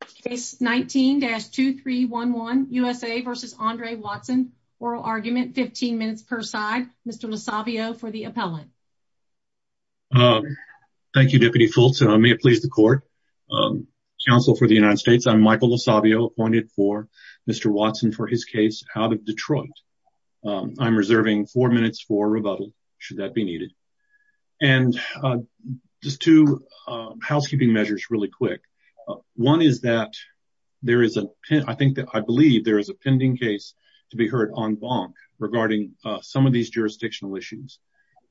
Case 19-2311, USA v. Andre Watson. Oral argument, 15 minutes per side. Mr. LoSavio for the appellant. Thank you, Deputy Fultz. May it please the court. Counsel for the United States, I'm Michael LoSavio, appointed for Mr. Watson for his case out of Detroit. I'm reserving four minutes for rebuttal, should that be needed. And just two housekeeping measures really quick. One is that I believe there is a pending case to be heard en banc regarding some of these jurisdictional issues.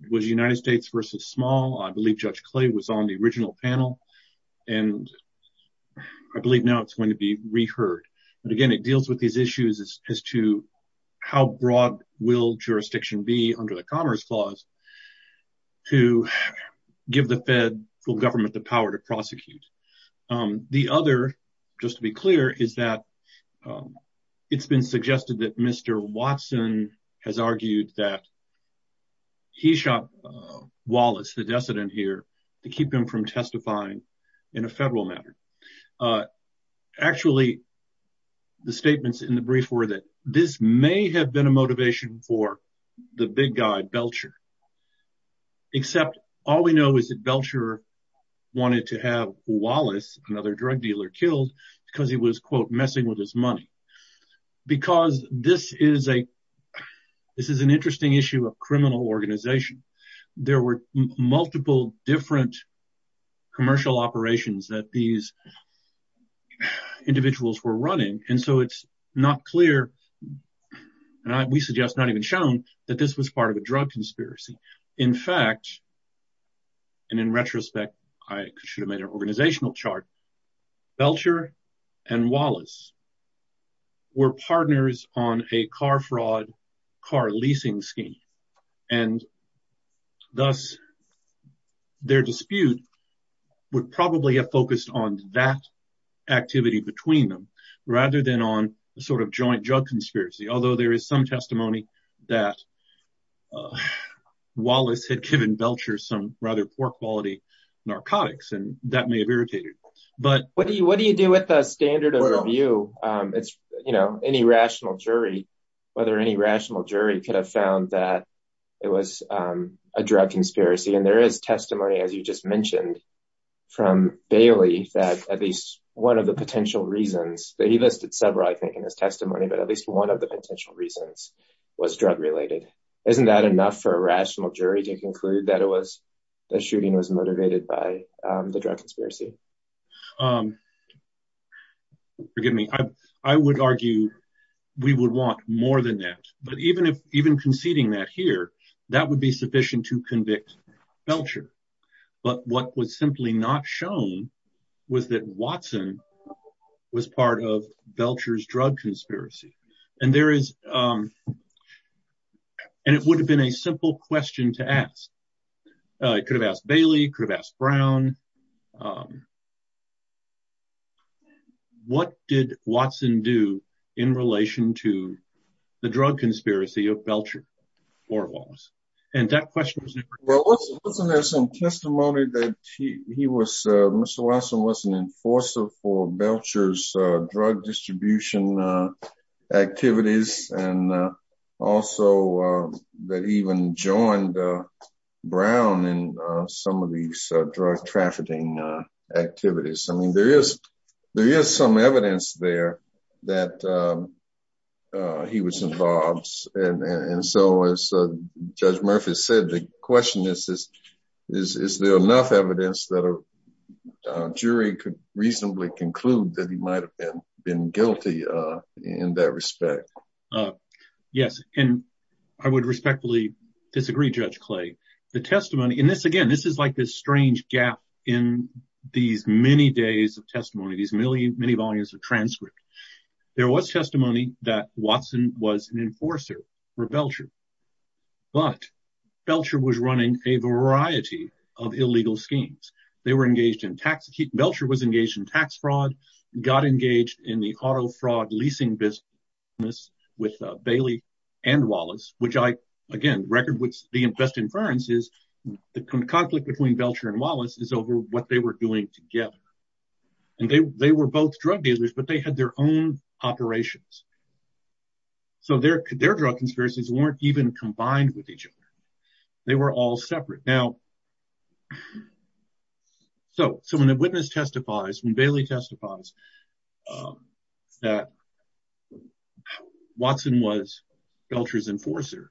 It was United States v. Small. I believe Judge Clay was on the original panel. And I believe now it's going to be reheard. But again, it deals with these issues as to how broad will jurisdiction be under the Commerce Clause to give the federal government the power to prosecute. The other, just to be clear, is that it's been suggested that Mr. Watson has argued that he shot Wallace, the decedent here, to keep him from testifying in a federal matter. Actually, the statements in the brief were that this may have been a motivation for the big guy, Belcher. Except all we know is that Belcher wanted to have Wallace, another drug dealer, killed because he was, quote, messing with his money. Because this is an interesting issue of criminal organization. There were multiple different commercial operations that these not clear, and we suggest not even shown, that this was part of a drug conspiracy. In fact, and in retrospect, I should have made an organizational chart, Belcher and Wallace were partners on a car fraud car leasing scheme. And thus, their dispute would probably have been on a joint drug conspiracy. Although there is some testimony that Wallace had given Belcher some rather poor quality narcotics, and that may have irritated. What do you do with the standard of review? Any rational jury could have found that it was a drug conspiracy. And there is testimony, as you just mentioned, from Bailey, that at least one of the potential reasons, that he listed several, I think, in his testimony, but at least one of the potential reasons was drug related. Isn't that enough for a rational jury to conclude that it was, the shooting was motivated by the drug conspiracy? Forgive me. I would argue we would want more than that. But even conceding that here, that would be sufficient to convict Belcher. But what was simply not shown was that Watson was part of Belcher's drug conspiracy. And there is, and it would have been a simple question to ask. It could have asked Bailey, could have asked Brown. What did Watson do in relation to the drug conspiracy of Belcher or Wallace? Well, wasn't there some testimony that he was, Mr. Watson was an enforcer for Belcher's drug trafficking activities? I mean, there is some evidence there that he was involved. And so, as Judge Murphy said, the question is, is there enough evidence that a jury could reasonably conclude that he might have been guilty in that respect? Yes. And I would respectfully disagree, Judge Clay. The testimony, and this again, this is like this strange gap in these many days of testimony, these millions, many volumes of transcript. There was testimony that Watson was an enforcer for Belcher. But Belcher was running a variety of illegal schemes. They were engaged in tax, Belcher was engaged in tax fraud, got engaged in the auto fraud leasing business with Bailey and Wallace, which I, again, the best inference is the conflict between Belcher and Wallace is over what they were doing together. And they were both drug dealers, but they had their own operations. So, their drug conspiracies weren't even combined with each other. They were all separate. Now, so when the witness testifies, when Bailey testifies that Watson was Belcher's enforcer,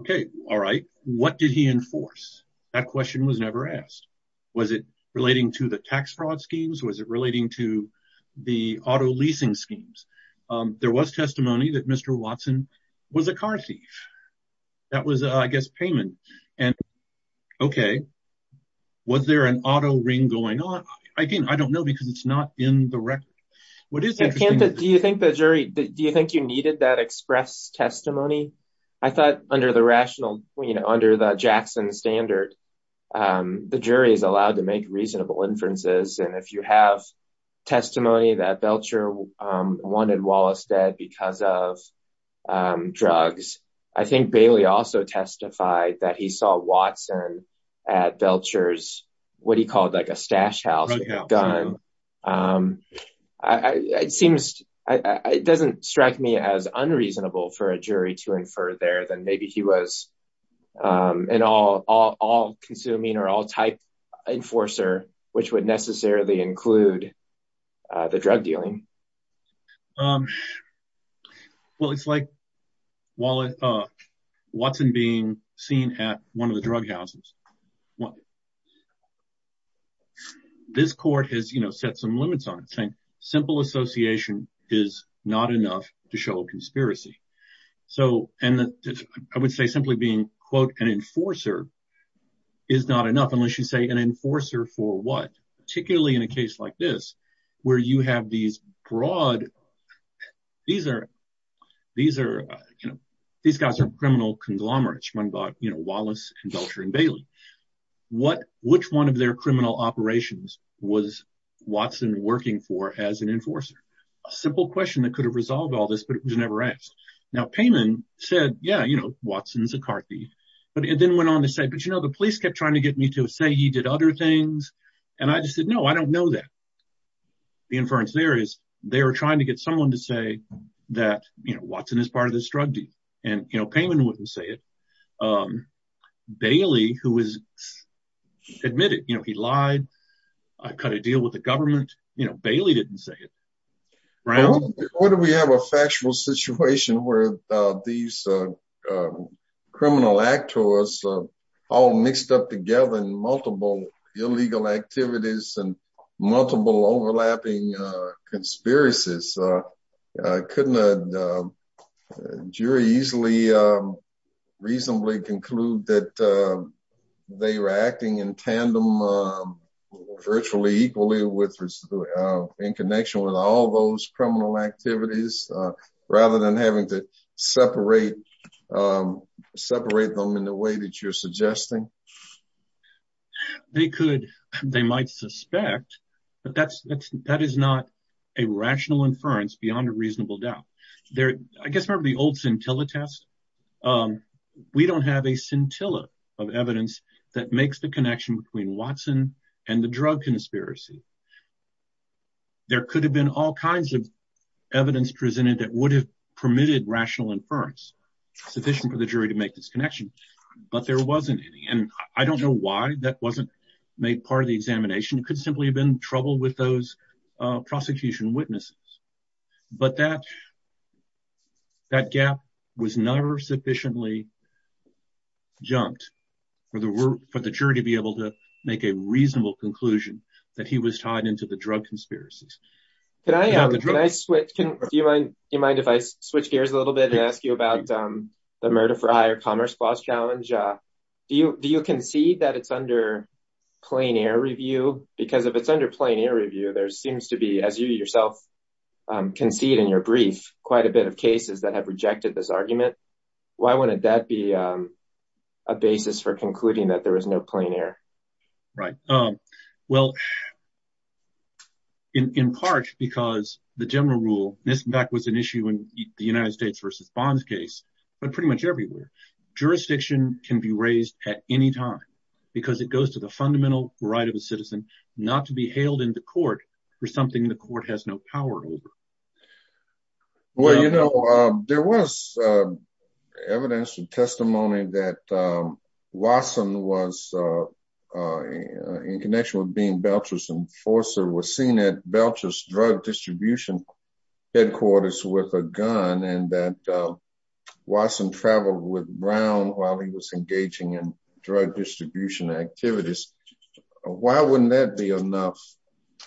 okay, all right, what did he enforce? That question was never asked. Was it relating to the tax fraud schemes? Was it relating to the auto leasing schemes? There was testimony that Mr. Watson was a car thief. That was, I guess, payment. And okay, was there an auto ring going on? Again, I don't know, because it's not in the record. What is interesting- Do you think you needed that express testimony? I thought under the rational, under the Jackson standard, the jury is allowed to make reasonable inferences. And if you have testimony that Belcher wanted Wallace dead because of drugs, I think Bailey also testified that he saw Watson at Belcher's, what he called like a stash house, gun. It seems, it doesn't strike me as unreasonable for a jury to infer there that maybe he was an all-consuming or all-type enforcer, which would necessarily include the drug dealing. Um, well, it's like Watson being seen at one of the drug houses. This court has, you know, set some limits on it, saying simple association is not enough to show a conspiracy. So, and I would say simply being, quote, an enforcer is not enough unless you say an enforcer for what? Particularly in a case like this, where you have these broad, these are, these are, you know, these guys are criminal conglomerates. One bought, you know, Wallace and Belcher and Bailey. What, which one of their criminal operations was Watson working for as an enforcer? A simple question that could have resolved all this, but it was never asked. Now, Payman said, yeah, you know, Watson's a car thief. But it then went on to say, but you know, the police kept trying to get me to say he did other things. And I just said, no, I don't know that. The inference there is they were trying to get someone to say that, you know, Watson is part of this drug deal. And, you know, Payman wouldn't say it. Um, Bailey, who was admitted, you know, he lied, cut a deal with the government, you know, Bailey didn't say it. Right? Well, what if we have a factual situation where, uh, these, uh, uh, criminal actors, uh, all mixed up together in multiple illegal activities and multiple overlapping, uh, conspiracies, uh, uh, couldn't, uh, uh, jury easily, um, reasonably conclude that, uh, they were acting in tandem, um, virtually equally with, uh, in connection with all those criminal activities, uh, rather than having to separate, um, separate them in the way that you're suggesting. They could, they might suspect, but that's, that's, that is not a rational inference beyond a reasonable doubt. There, I guess, remember the old scintilla test? Um, we don't have a scintilla of evidence that makes the connection between Watson and the drug conspiracy. There could have been all kinds of evidence presented that would have permitted rational inference, sufficient for the jury to make this connection, but there wasn't any. And I don't know why that wasn't made part of the examination. It could simply have been trouble with those, uh, prosecution witnesses, but that, that gap was never sufficiently jumped for the, for the jury to be able to make a reasonable conclusion that he was tied into the drug conspiracies. Can I, can I switch? Do you mind, do you mind if I switch gears a little bit and ask you about, um, the murder for higher commerce clause challenge? Uh, do you, do you concede that it's under plain air review? Because if it's under plain air review, there seems to be, as you yourself, um, concede in your brief, quite a bit of cases that have rejected this argument. Why wouldn't that be, um, a basis for concluding that there was no plain air? Right. Um, well, in, in part because the general rule, this in fact was an issue in the United States versus bonds case, but pretty much everywhere, jurisdiction can be raised at any time because it goes to the fundamental right of a citizen not to be hailed into court for something the evidence, the testimony that, um, Wasson was, uh, uh, in connection with being Belcher's enforcer was seen at Belcher's drug distribution headquarters with a gun and that, uh, Wasson traveled with Brown while he was engaging in drug distribution activities. Why wouldn't that be enough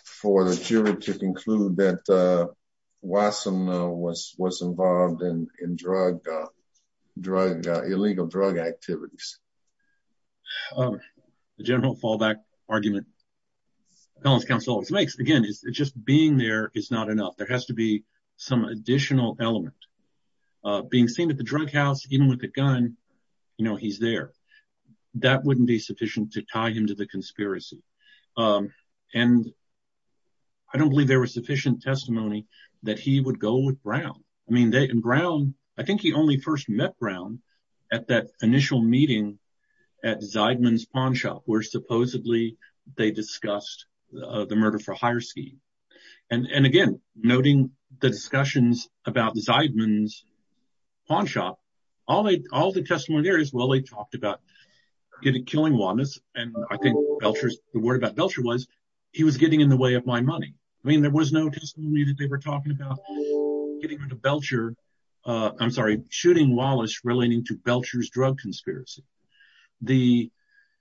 for the jury to conclude that, uh, Wasson, uh, was, was involved in, in drug, uh, drug, uh, illegal drug activities? Um, the general fallback argument balance counsel always makes again is just being there is not enough. There has to be some additional element, uh, being seen at the drug house, even with a gun, you know, he's there. That wouldn't be sufficient to tie him to the conspiracy. Um, and I don't believe there was sufficient testimony that he would go with Brown. I mean, they, and Brown, I think he only first met Brown at that initial meeting at Zeidman's pawn shop, where supposedly they discussed, uh, the murder for hire scheme. And, and again, noting the testimony there is, well, they talked about killing Wallace and I think Belcher's, the word about Belcher was he was getting in the way of my money. I mean, there was no testimony that they were talking about getting into Belcher, uh, I'm sorry, shooting Wallace relating to Belcher's drug conspiracy. The,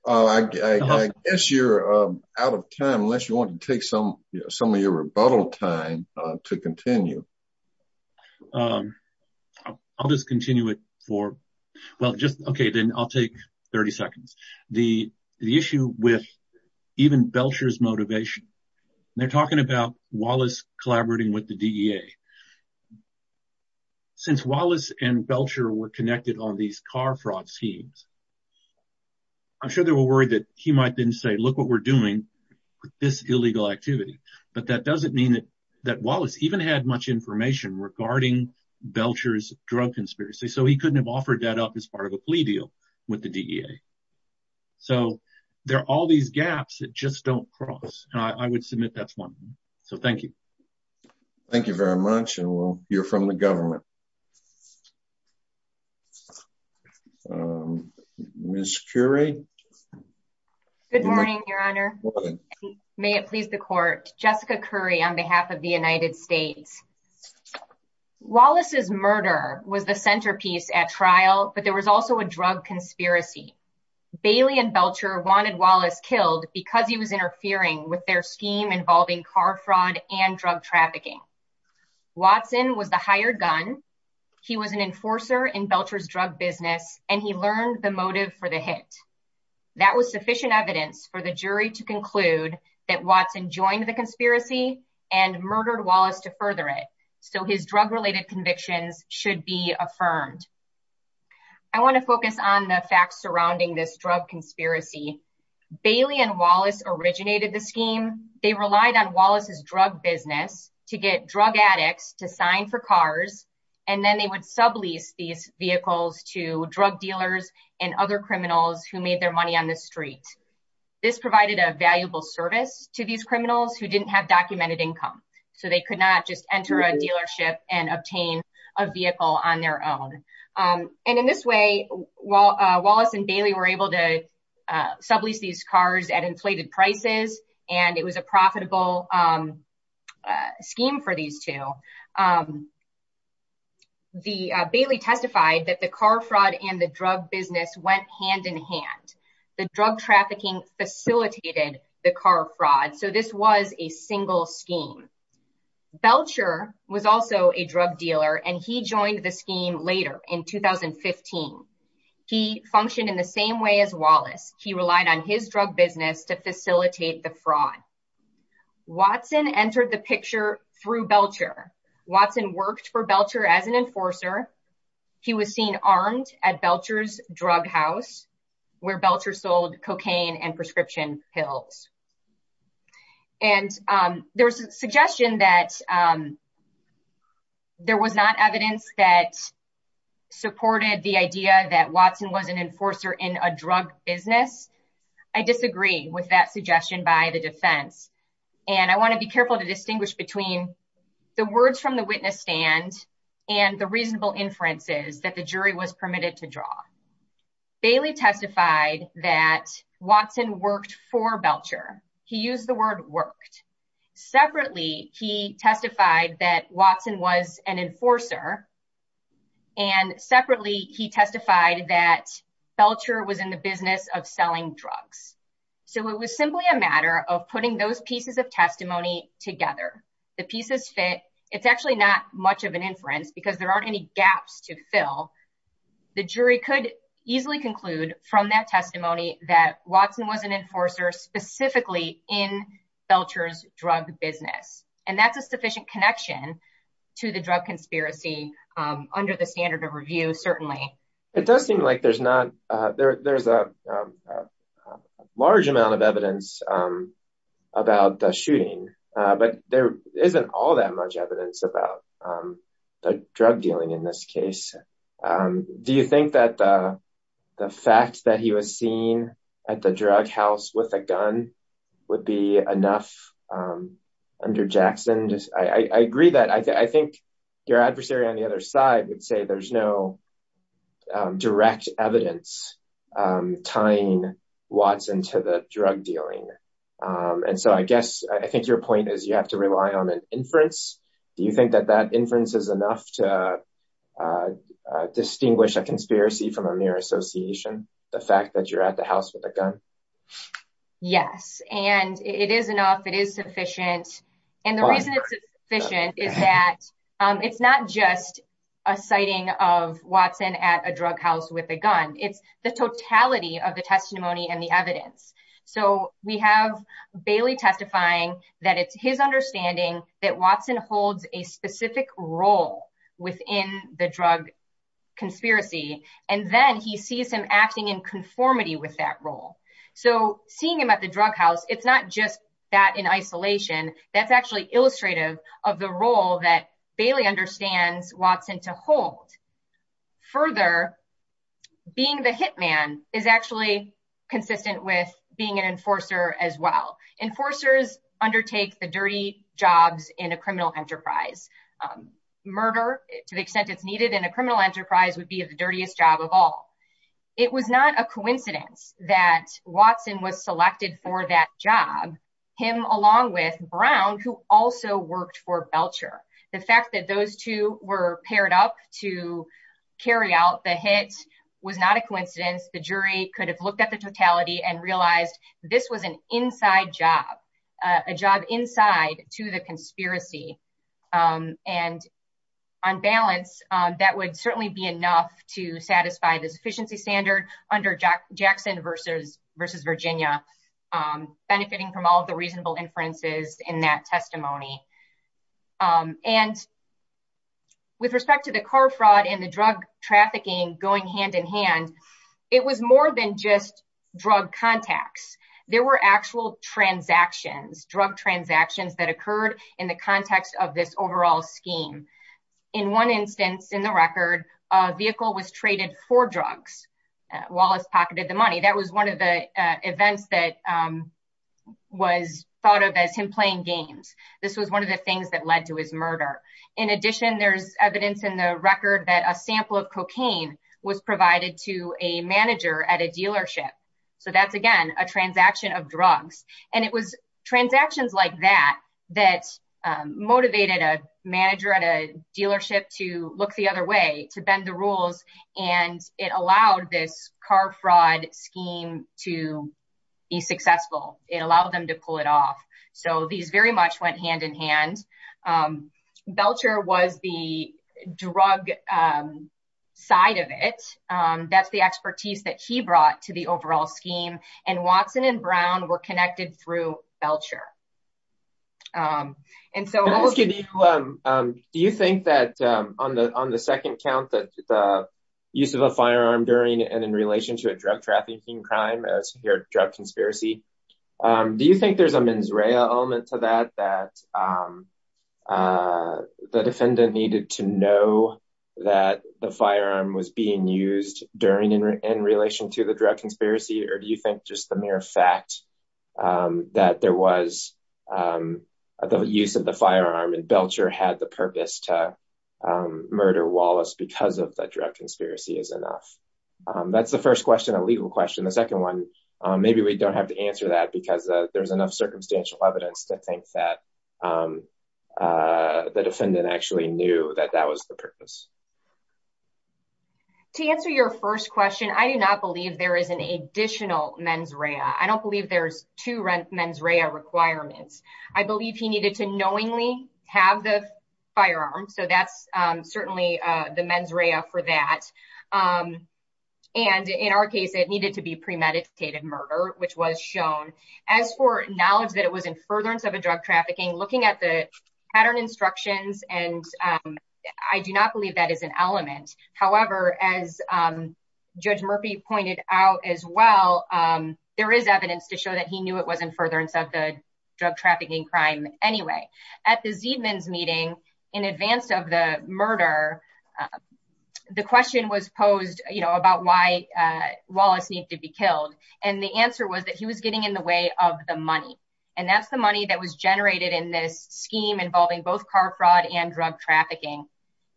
uh, I guess you're, um, out of time, unless you want to take some, some of your rebuttal time, uh, to continue. Um, I'll just continue it for, well, just, okay. Then I'll take 30 seconds. The, the issue with even Belcher's motivation, they're talking about Wallace collaborating with the DEA. Since Wallace and Belcher were connected on these car fraud schemes, I'm sure they were worried that he might then say, look what we're doing with this illegal activity. But that doesn't mean that Wallace even had much information regarding Belcher's drug conspiracy. So he couldn't have offered that up as part of a plea deal with the DEA. So there are all these gaps that just don't cross. And I would submit that's one. So thank you. Thank you very much. And we'll hear from the government. Um, Ms. Currie. Good morning, your honor. May it please the court. Jessica Currie on behalf of the United States. Wallace's murder was the centerpiece at trial, but there was also a drug conspiracy. Bailey and Belcher wanted Wallace killed because he was interfering with their scheme involving car trafficking. Watson was the hired gun. He was an enforcer in Belcher's drug business, and he learned the motive for the hit. That was sufficient evidence for the jury to conclude that Watson joined the conspiracy and murdered Wallace to further it. So his drug-related convictions should be affirmed. I want to focus on the facts surrounding this drug conspiracy. Bailey and Wallace originated the scheme. They relied on Wallace's drug business to get drug addicts to sign for cars, and then they would sublease these vehicles to drug dealers and other criminals who made their money on the street. This provided a valuable service to these criminals who didn't have documented income. So they could not just enter a dealership and obtain a vehicle on their own. And in this way, Wallace and Bailey were able to sublease these cars at inflated prices, and it was a profitable scheme for these two. Bailey testified that the car fraud and the drug business went hand in hand. The drug trafficking facilitated the car fraud. So this was a single scheme. Belcher was also a drug dealer, and he joined the scheme later in 2015. He functioned in the same way as Wallace. He relied on his drug business to facilitate the fraud. Watson entered the picture through Belcher. Watson worked for Belcher as an enforcer. He was seen armed at Belcher's drug house, where Belcher sold cocaine and prescription pills. And there's a suggestion that there was not evidence that supported the idea that Watson was an enforcer in a drug business. I disagree with that suggestion by the defense. And I want to be careful to distinguish between the words from the witness stand and the reasonable inferences that the jury was permitted to draw. Bailey testified that Watson worked for Belcher. He used the word worked. Separately, he testified that Watson was an enforcer. And separately, he testified that Belcher was in the business of selling drugs. So it was simply a matter of putting those pieces of testimony together. The pieces fit. It's actually not much of an inference because there aren't any gaps to fill. The jury could easily conclude from that testimony that Watson was an enforcer specifically in Belcher's drug business. And that's a sufficient connection to the drug conspiracy under the standard of review, certainly. It does seem like there's a large amount of evidence about the shooting, but there isn't all that much evidence about the drug dealing in this case. Do you think that the fact that he was seen at the drug house with a gun would be enough under Jackson? I agree that I think your adversary on the other side would say there's no direct evidence tying Watson to the drug dealing. And so I guess I think your point is you have to rely on an inference. Do you think that that inference is enough to distinguish a conspiracy from a mere association? The fact that you're at the house with a gun? Yes. And it is enough. It is sufficient. And the reason it's sufficient is that it's not just a sighting of Watson at a drug house with a gun. It's the totality of Bailey testifying that it's his understanding that Watson holds a specific role within the drug conspiracy. And then he sees him acting in conformity with that role. So seeing him at the drug house, it's not just that in isolation. That's actually illustrative of the role that Bailey understands Watson to hold. Further, being the hitman is actually consistent with being an enforcer as well. Enforcers undertake the dirty jobs in a criminal enterprise. Murder, to the extent it's needed in a criminal enterprise would be the dirtiest job of all. It was not a coincidence that Watson was selected for that job. Him along with Brown, who also worked for Belcher. The fact that those two were paired up to carry out the hit was not a coincidence. The jury could have looked at the totality and realized this was an inside job, a job inside to the conspiracy. And on balance, that would certainly be enough to satisfy this efficiency standard under Jackson versus Virginia, benefiting from all of the reasonable inferences in that testimony. And with respect to the car fraud and the drug trafficking going hand in hand, it was more than just drug contacts. There were actual transactions, drug transactions that occurred in the context of this overall scheme. In one instance in the record, a vehicle was traded for drugs. Wallace pocketed the money. That was one of the events that was thought of as him playing games. This was one of the things that led to his murder. In addition, there's evidence in the record that a sample of cocaine was provided to a manager at a dealership. So that's, again, a transaction of drugs. And it was transactions like that that motivated a manager at a dealership to look the other way, to bend the rules. And it allowed this car fraud scheme to be successful. It allowed them to pull it off. So these very much went hand in hand. Belcher was the drug side of it. That's the expertise that he brought to the overall scheme. And Watson and Brown were connected through Belcher. Can I ask you, do you think that on the second count that the use of a firearm during and in drug trafficking crime as your drug conspiracy, do you think there's a mens rea element to that, that the defendant needed to know that the firearm was being used during and in relation to the drug conspiracy? Or do you think just the mere fact that there was the use of the firearm and Belcher had the purpose to murder Wallace because of the drug conspiracy is enough? That's the first question, a legal question. The second one, maybe we don't have to answer that because there's enough circumstantial evidence to think that the defendant actually knew that that was the purpose. To answer your first question, I do not believe there is an additional mens rea. I don't believe there's two mens rea requirements. I believe he needed to knowingly have the firearm. So that's certainly the mens rea for that. And in our case, it needed to be premeditated murder, which was shown as for knowledge that it was in furtherance of a drug trafficking, looking at the pattern instructions. And I do not believe that is an element. However, as Judge Murphy pointed out as well, there is evidence to show that he knew it was in furtherance of the drug trafficking crime. Anyway, at this evening's meeting, in advance of the murder, the question was posed, you know, about why Wallace needs to be killed. And the answer was that he was getting in the way of the money. And that's the money that was generated in this scheme involving both car fraud and drug trafficking.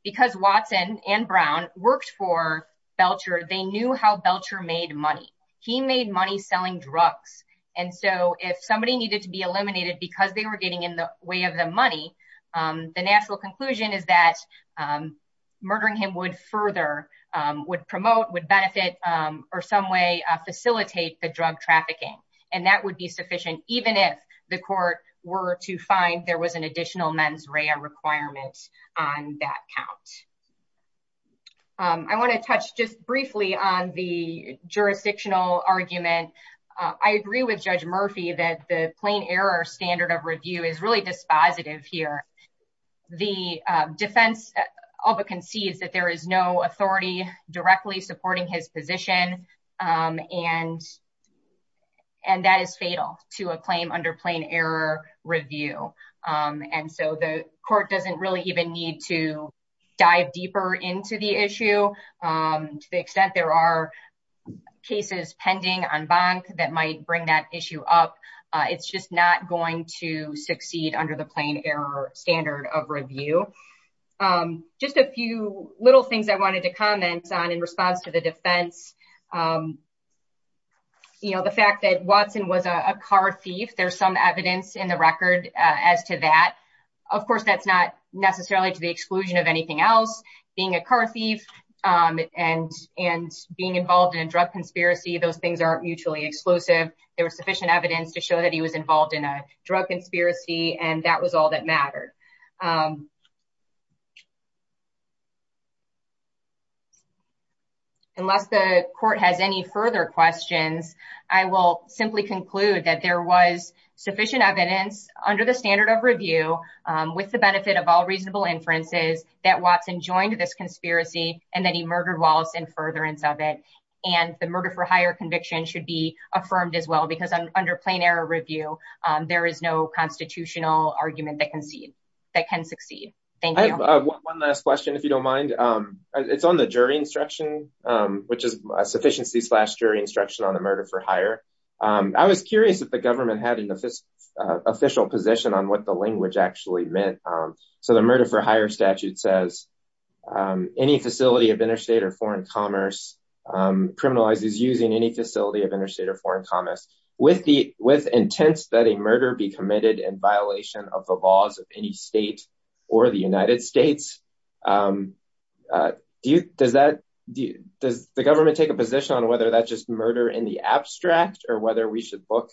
Because Watson and Brown worked for Belcher, they knew how Belcher made money. He made money selling drugs. And so if somebody needed to be eliminated because they were getting in the way of the money, the national conclusion is that murdering him would further would promote would benefit or some way facilitate the drug trafficking. And that would be sufficient even if the court were to find there was an I want to touch just briefly on the jurisdictional argument. I agree with Judge Murphy that the plain error standard of review is really dispositive here. The defense, all but concedes that there is no authority directly supporting his position. And, and that is fatal to a claim under plain error review. And so the court doesn't really even need to dive deeper into the issue to the extent there are cases pending on bond that might bring that issue up. It's just not going to succeed under the plain error standard of review. Just a few little things I wanted to comment on in response to the defense. You know, the fact that Watson was a car thief, there's some evidence in the record as to that. Of course, that's not necessarily to the exclusion of anything else, being a car thief, and, and being involved in a drug conspiracy, those things aren't mutually exclusive. There was sufficient evidence to show that he was involved in a drug conspiracy. And that was all that mattered. Unless the court has any further questions, I will simply conclude that there was sufficient evidence under the standard of review with the benefit of all reasonable inferences that Watson joined this conspiracy, and then he murdered Wallace in furtherance of it. And the murder for higher conviction should be affirmed as well, because under plain error review, there is no constitutional argument that can see that can succeed. Thank you. One last question, if you don't mind. It's on the jury instruction, which is sufficiency slash jury instruction on the murder for hire. I was curious if the government had an official position on what the language actually meant. So the murder for hire statute says, any facility of interstate or foreign commerce criminalizes using any facility of interstate or foreign commerce with the with intense that a murder be committed in violation of the laws of any state or the United States. Do you does that? Does the government take a position on whether that's just murder in the abstract or whether we should look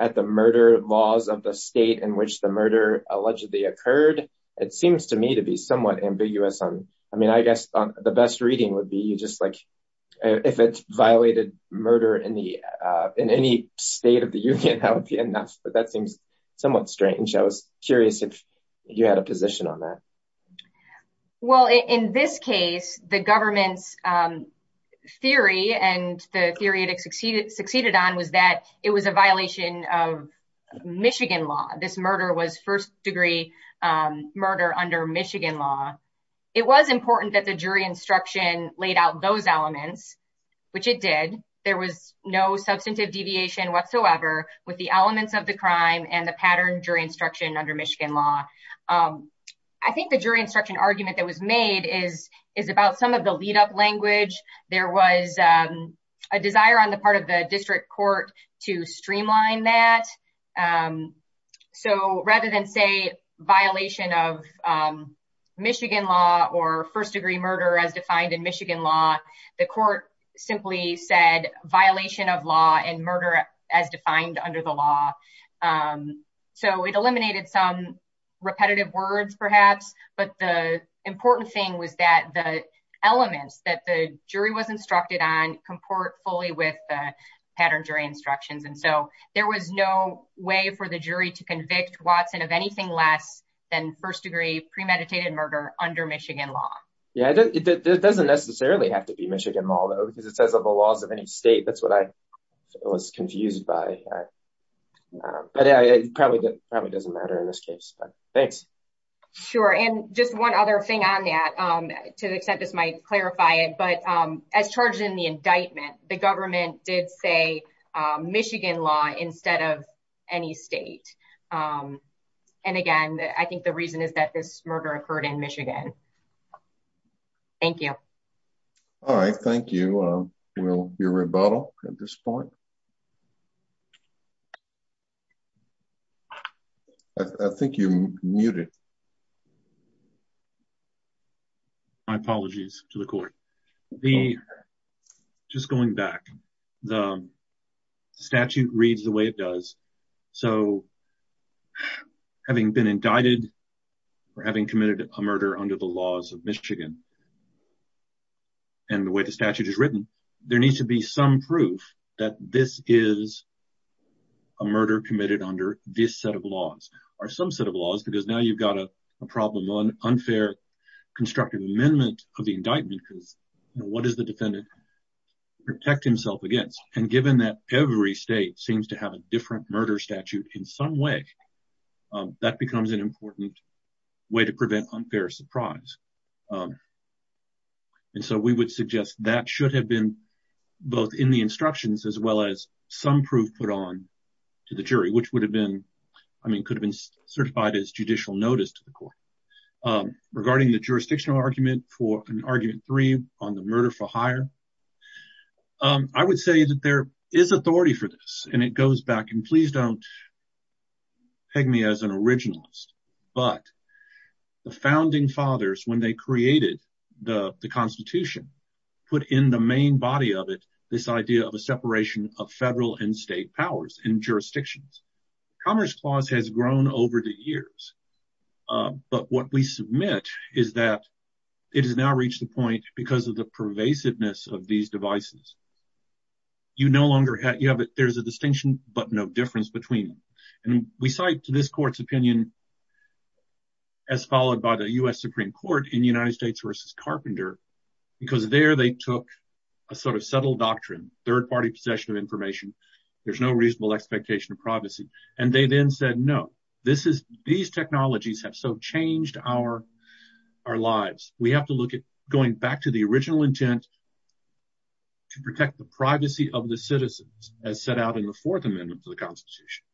at the murder laws of the state in which the murder allegedly occurred? It seems to me to be somewhat ambiguous on I mean, I guess the best reading would be just like, if it violated murder in the in any state that would be enough. But that seems somewhat strange. I was curious if you had a position on that. Well, in this case, the government's theory and the theory that succeeded succeeded on was that it was a violation of Michigan law. This murder was first degree murder under Michigan law. It was important that the jury instruction laid out those elements, which it did. There was no substantive deviation whatsoever with the elements of the crime and the pattern jury instruction under Michigan law. I think the jury instruction argument that was made is is about some of the lead up language. There was a desire on the part of the district court to streamline that. So rather than say, violation of Michigan law or first degree as defined in Michigan law, the court simply said violation of law and murder as defined under the law. So it eliminated some repetitive words, perhaps. But the important thing was that the elements that the jury was instructed on comport fully with the pattern jury instructions. And so there was no way for the jury to convict Watson of anything less than first degree premeditated murder under Michigan law. Yeah, it doesn't necessarily have to be Michigan law, though, because it says of the laws of any state. That's what I was confused by. But it probably doesn't matter in this case. Thanks. Sure. And just one other thing on that, to the extent this might clarify it, but as charged in the indictment, the government did say Michigan law instead of any state. And again, I think the reason is that this murder occurred in Michigan. Thank you. All right. Thank you. We'll hear rebuttal at this point. I think you muted. My apologies to the court. The just going back, the statute reads the way it does. So having been indicted or having committed a murder under the laws of Michigan and the way the statute is written, there needs to be some proof that this is a murder committed under this set of laws or some set of laws, because now you've got a problem on unfair constructive amendment of the indictment. Because what is the defendant protect himself against? And given that every state seems to have a different murder statute in some way, that becomes an important way to prevent unfair surprise. And so we would suggest that should have been both in the instructions as well as some proof put on to the jury, which would have been I mean, could have been certified as judicial notice to the court regarding the jurisdictional argument for an argument three on the murder for a murder. I would say that there is authority for this. And it goes back and please don't peg me as an originalist. But the founding fathers, when they created the Constitution, put in the main body of it, this idea of a separation of federal and state powers and jurisdictions. Commerce Clause has grown over the years. But what we submit is that it has now reached the point because of the pervasiveness of these devices, you no longer have it, there's a distinction, but no difference between. And we cite to this court's opinion, as followed by the US Supreme Court in the United States versus Carpenter, because there they took a sort of subtle doctrine, third party possession of information. There's no reasonable expectation of privacy. And they then said, No, this is these technologies have so changed our, our lives, we have to look at going back to the original intent to protect the privacy of the citizens as set out in the Fourth Amendment to the Constitution.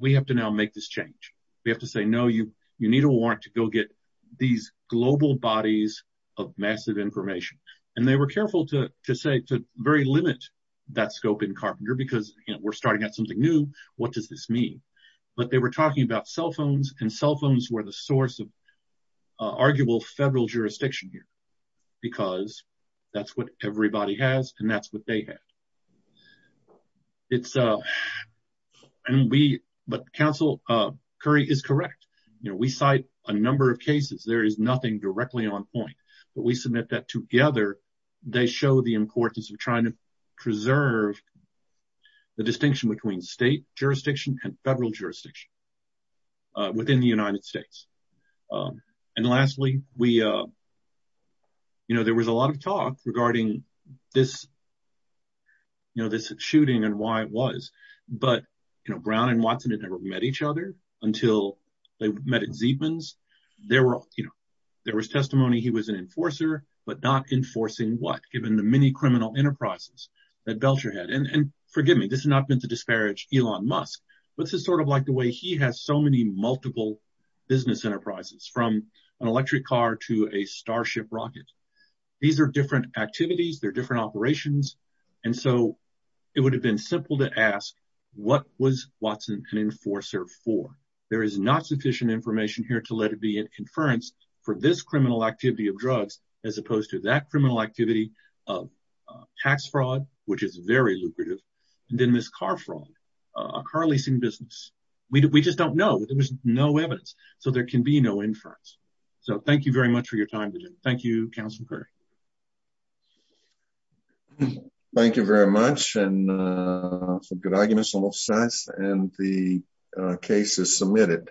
We have to now make this change. We have to say no, you, you need a warrant to go get these global bodies of massive information. And they were careful to say to very limit that scope in Carpenter, because we're starting out something new. What does this mean? But they were talking about cell phones, and cell phones were the source of arguable federal jurisdiction here. Because that's what everybody has. And that's what they have. It's a and we but Council Curry is correct. You know, we cite a number of cases, there is nothing directly on point. But we submit that together, they show the importance of trying to preserve the distinction between state jurisdiction and federal jurisdiction within the United States. And lastly, we, you know, there was a lot of talk regarding this, you know, this shooting and why it was, but, you know, Brown and Watson had never met each other until they met at Zeedman's, there were, you know, there was testimony, he was an enforcer, but not enforcing what given the many criminal enterprises that Belcher had. And forgive me, this is not meant to disparage Elon Musk. But this is sort of like the way he has so many multiple business enterprises from an electric car to a starship rocket. These are different activities, they're different operations. And so it would have been simple to ask, what was Watson an enforcer for, there is not sufficient information here to let it be an inference for this criminal activity of drugs, as opposed to that criminal activity of tax fraud, which is very lucrative. And then this car fraud, a car leasing business, we just don't know, there was no evidence. So there can be no inference. So thank you very much for your time today. Thank you, Councilor Kerr. Thank you very much and some good arguments and the case is submitted.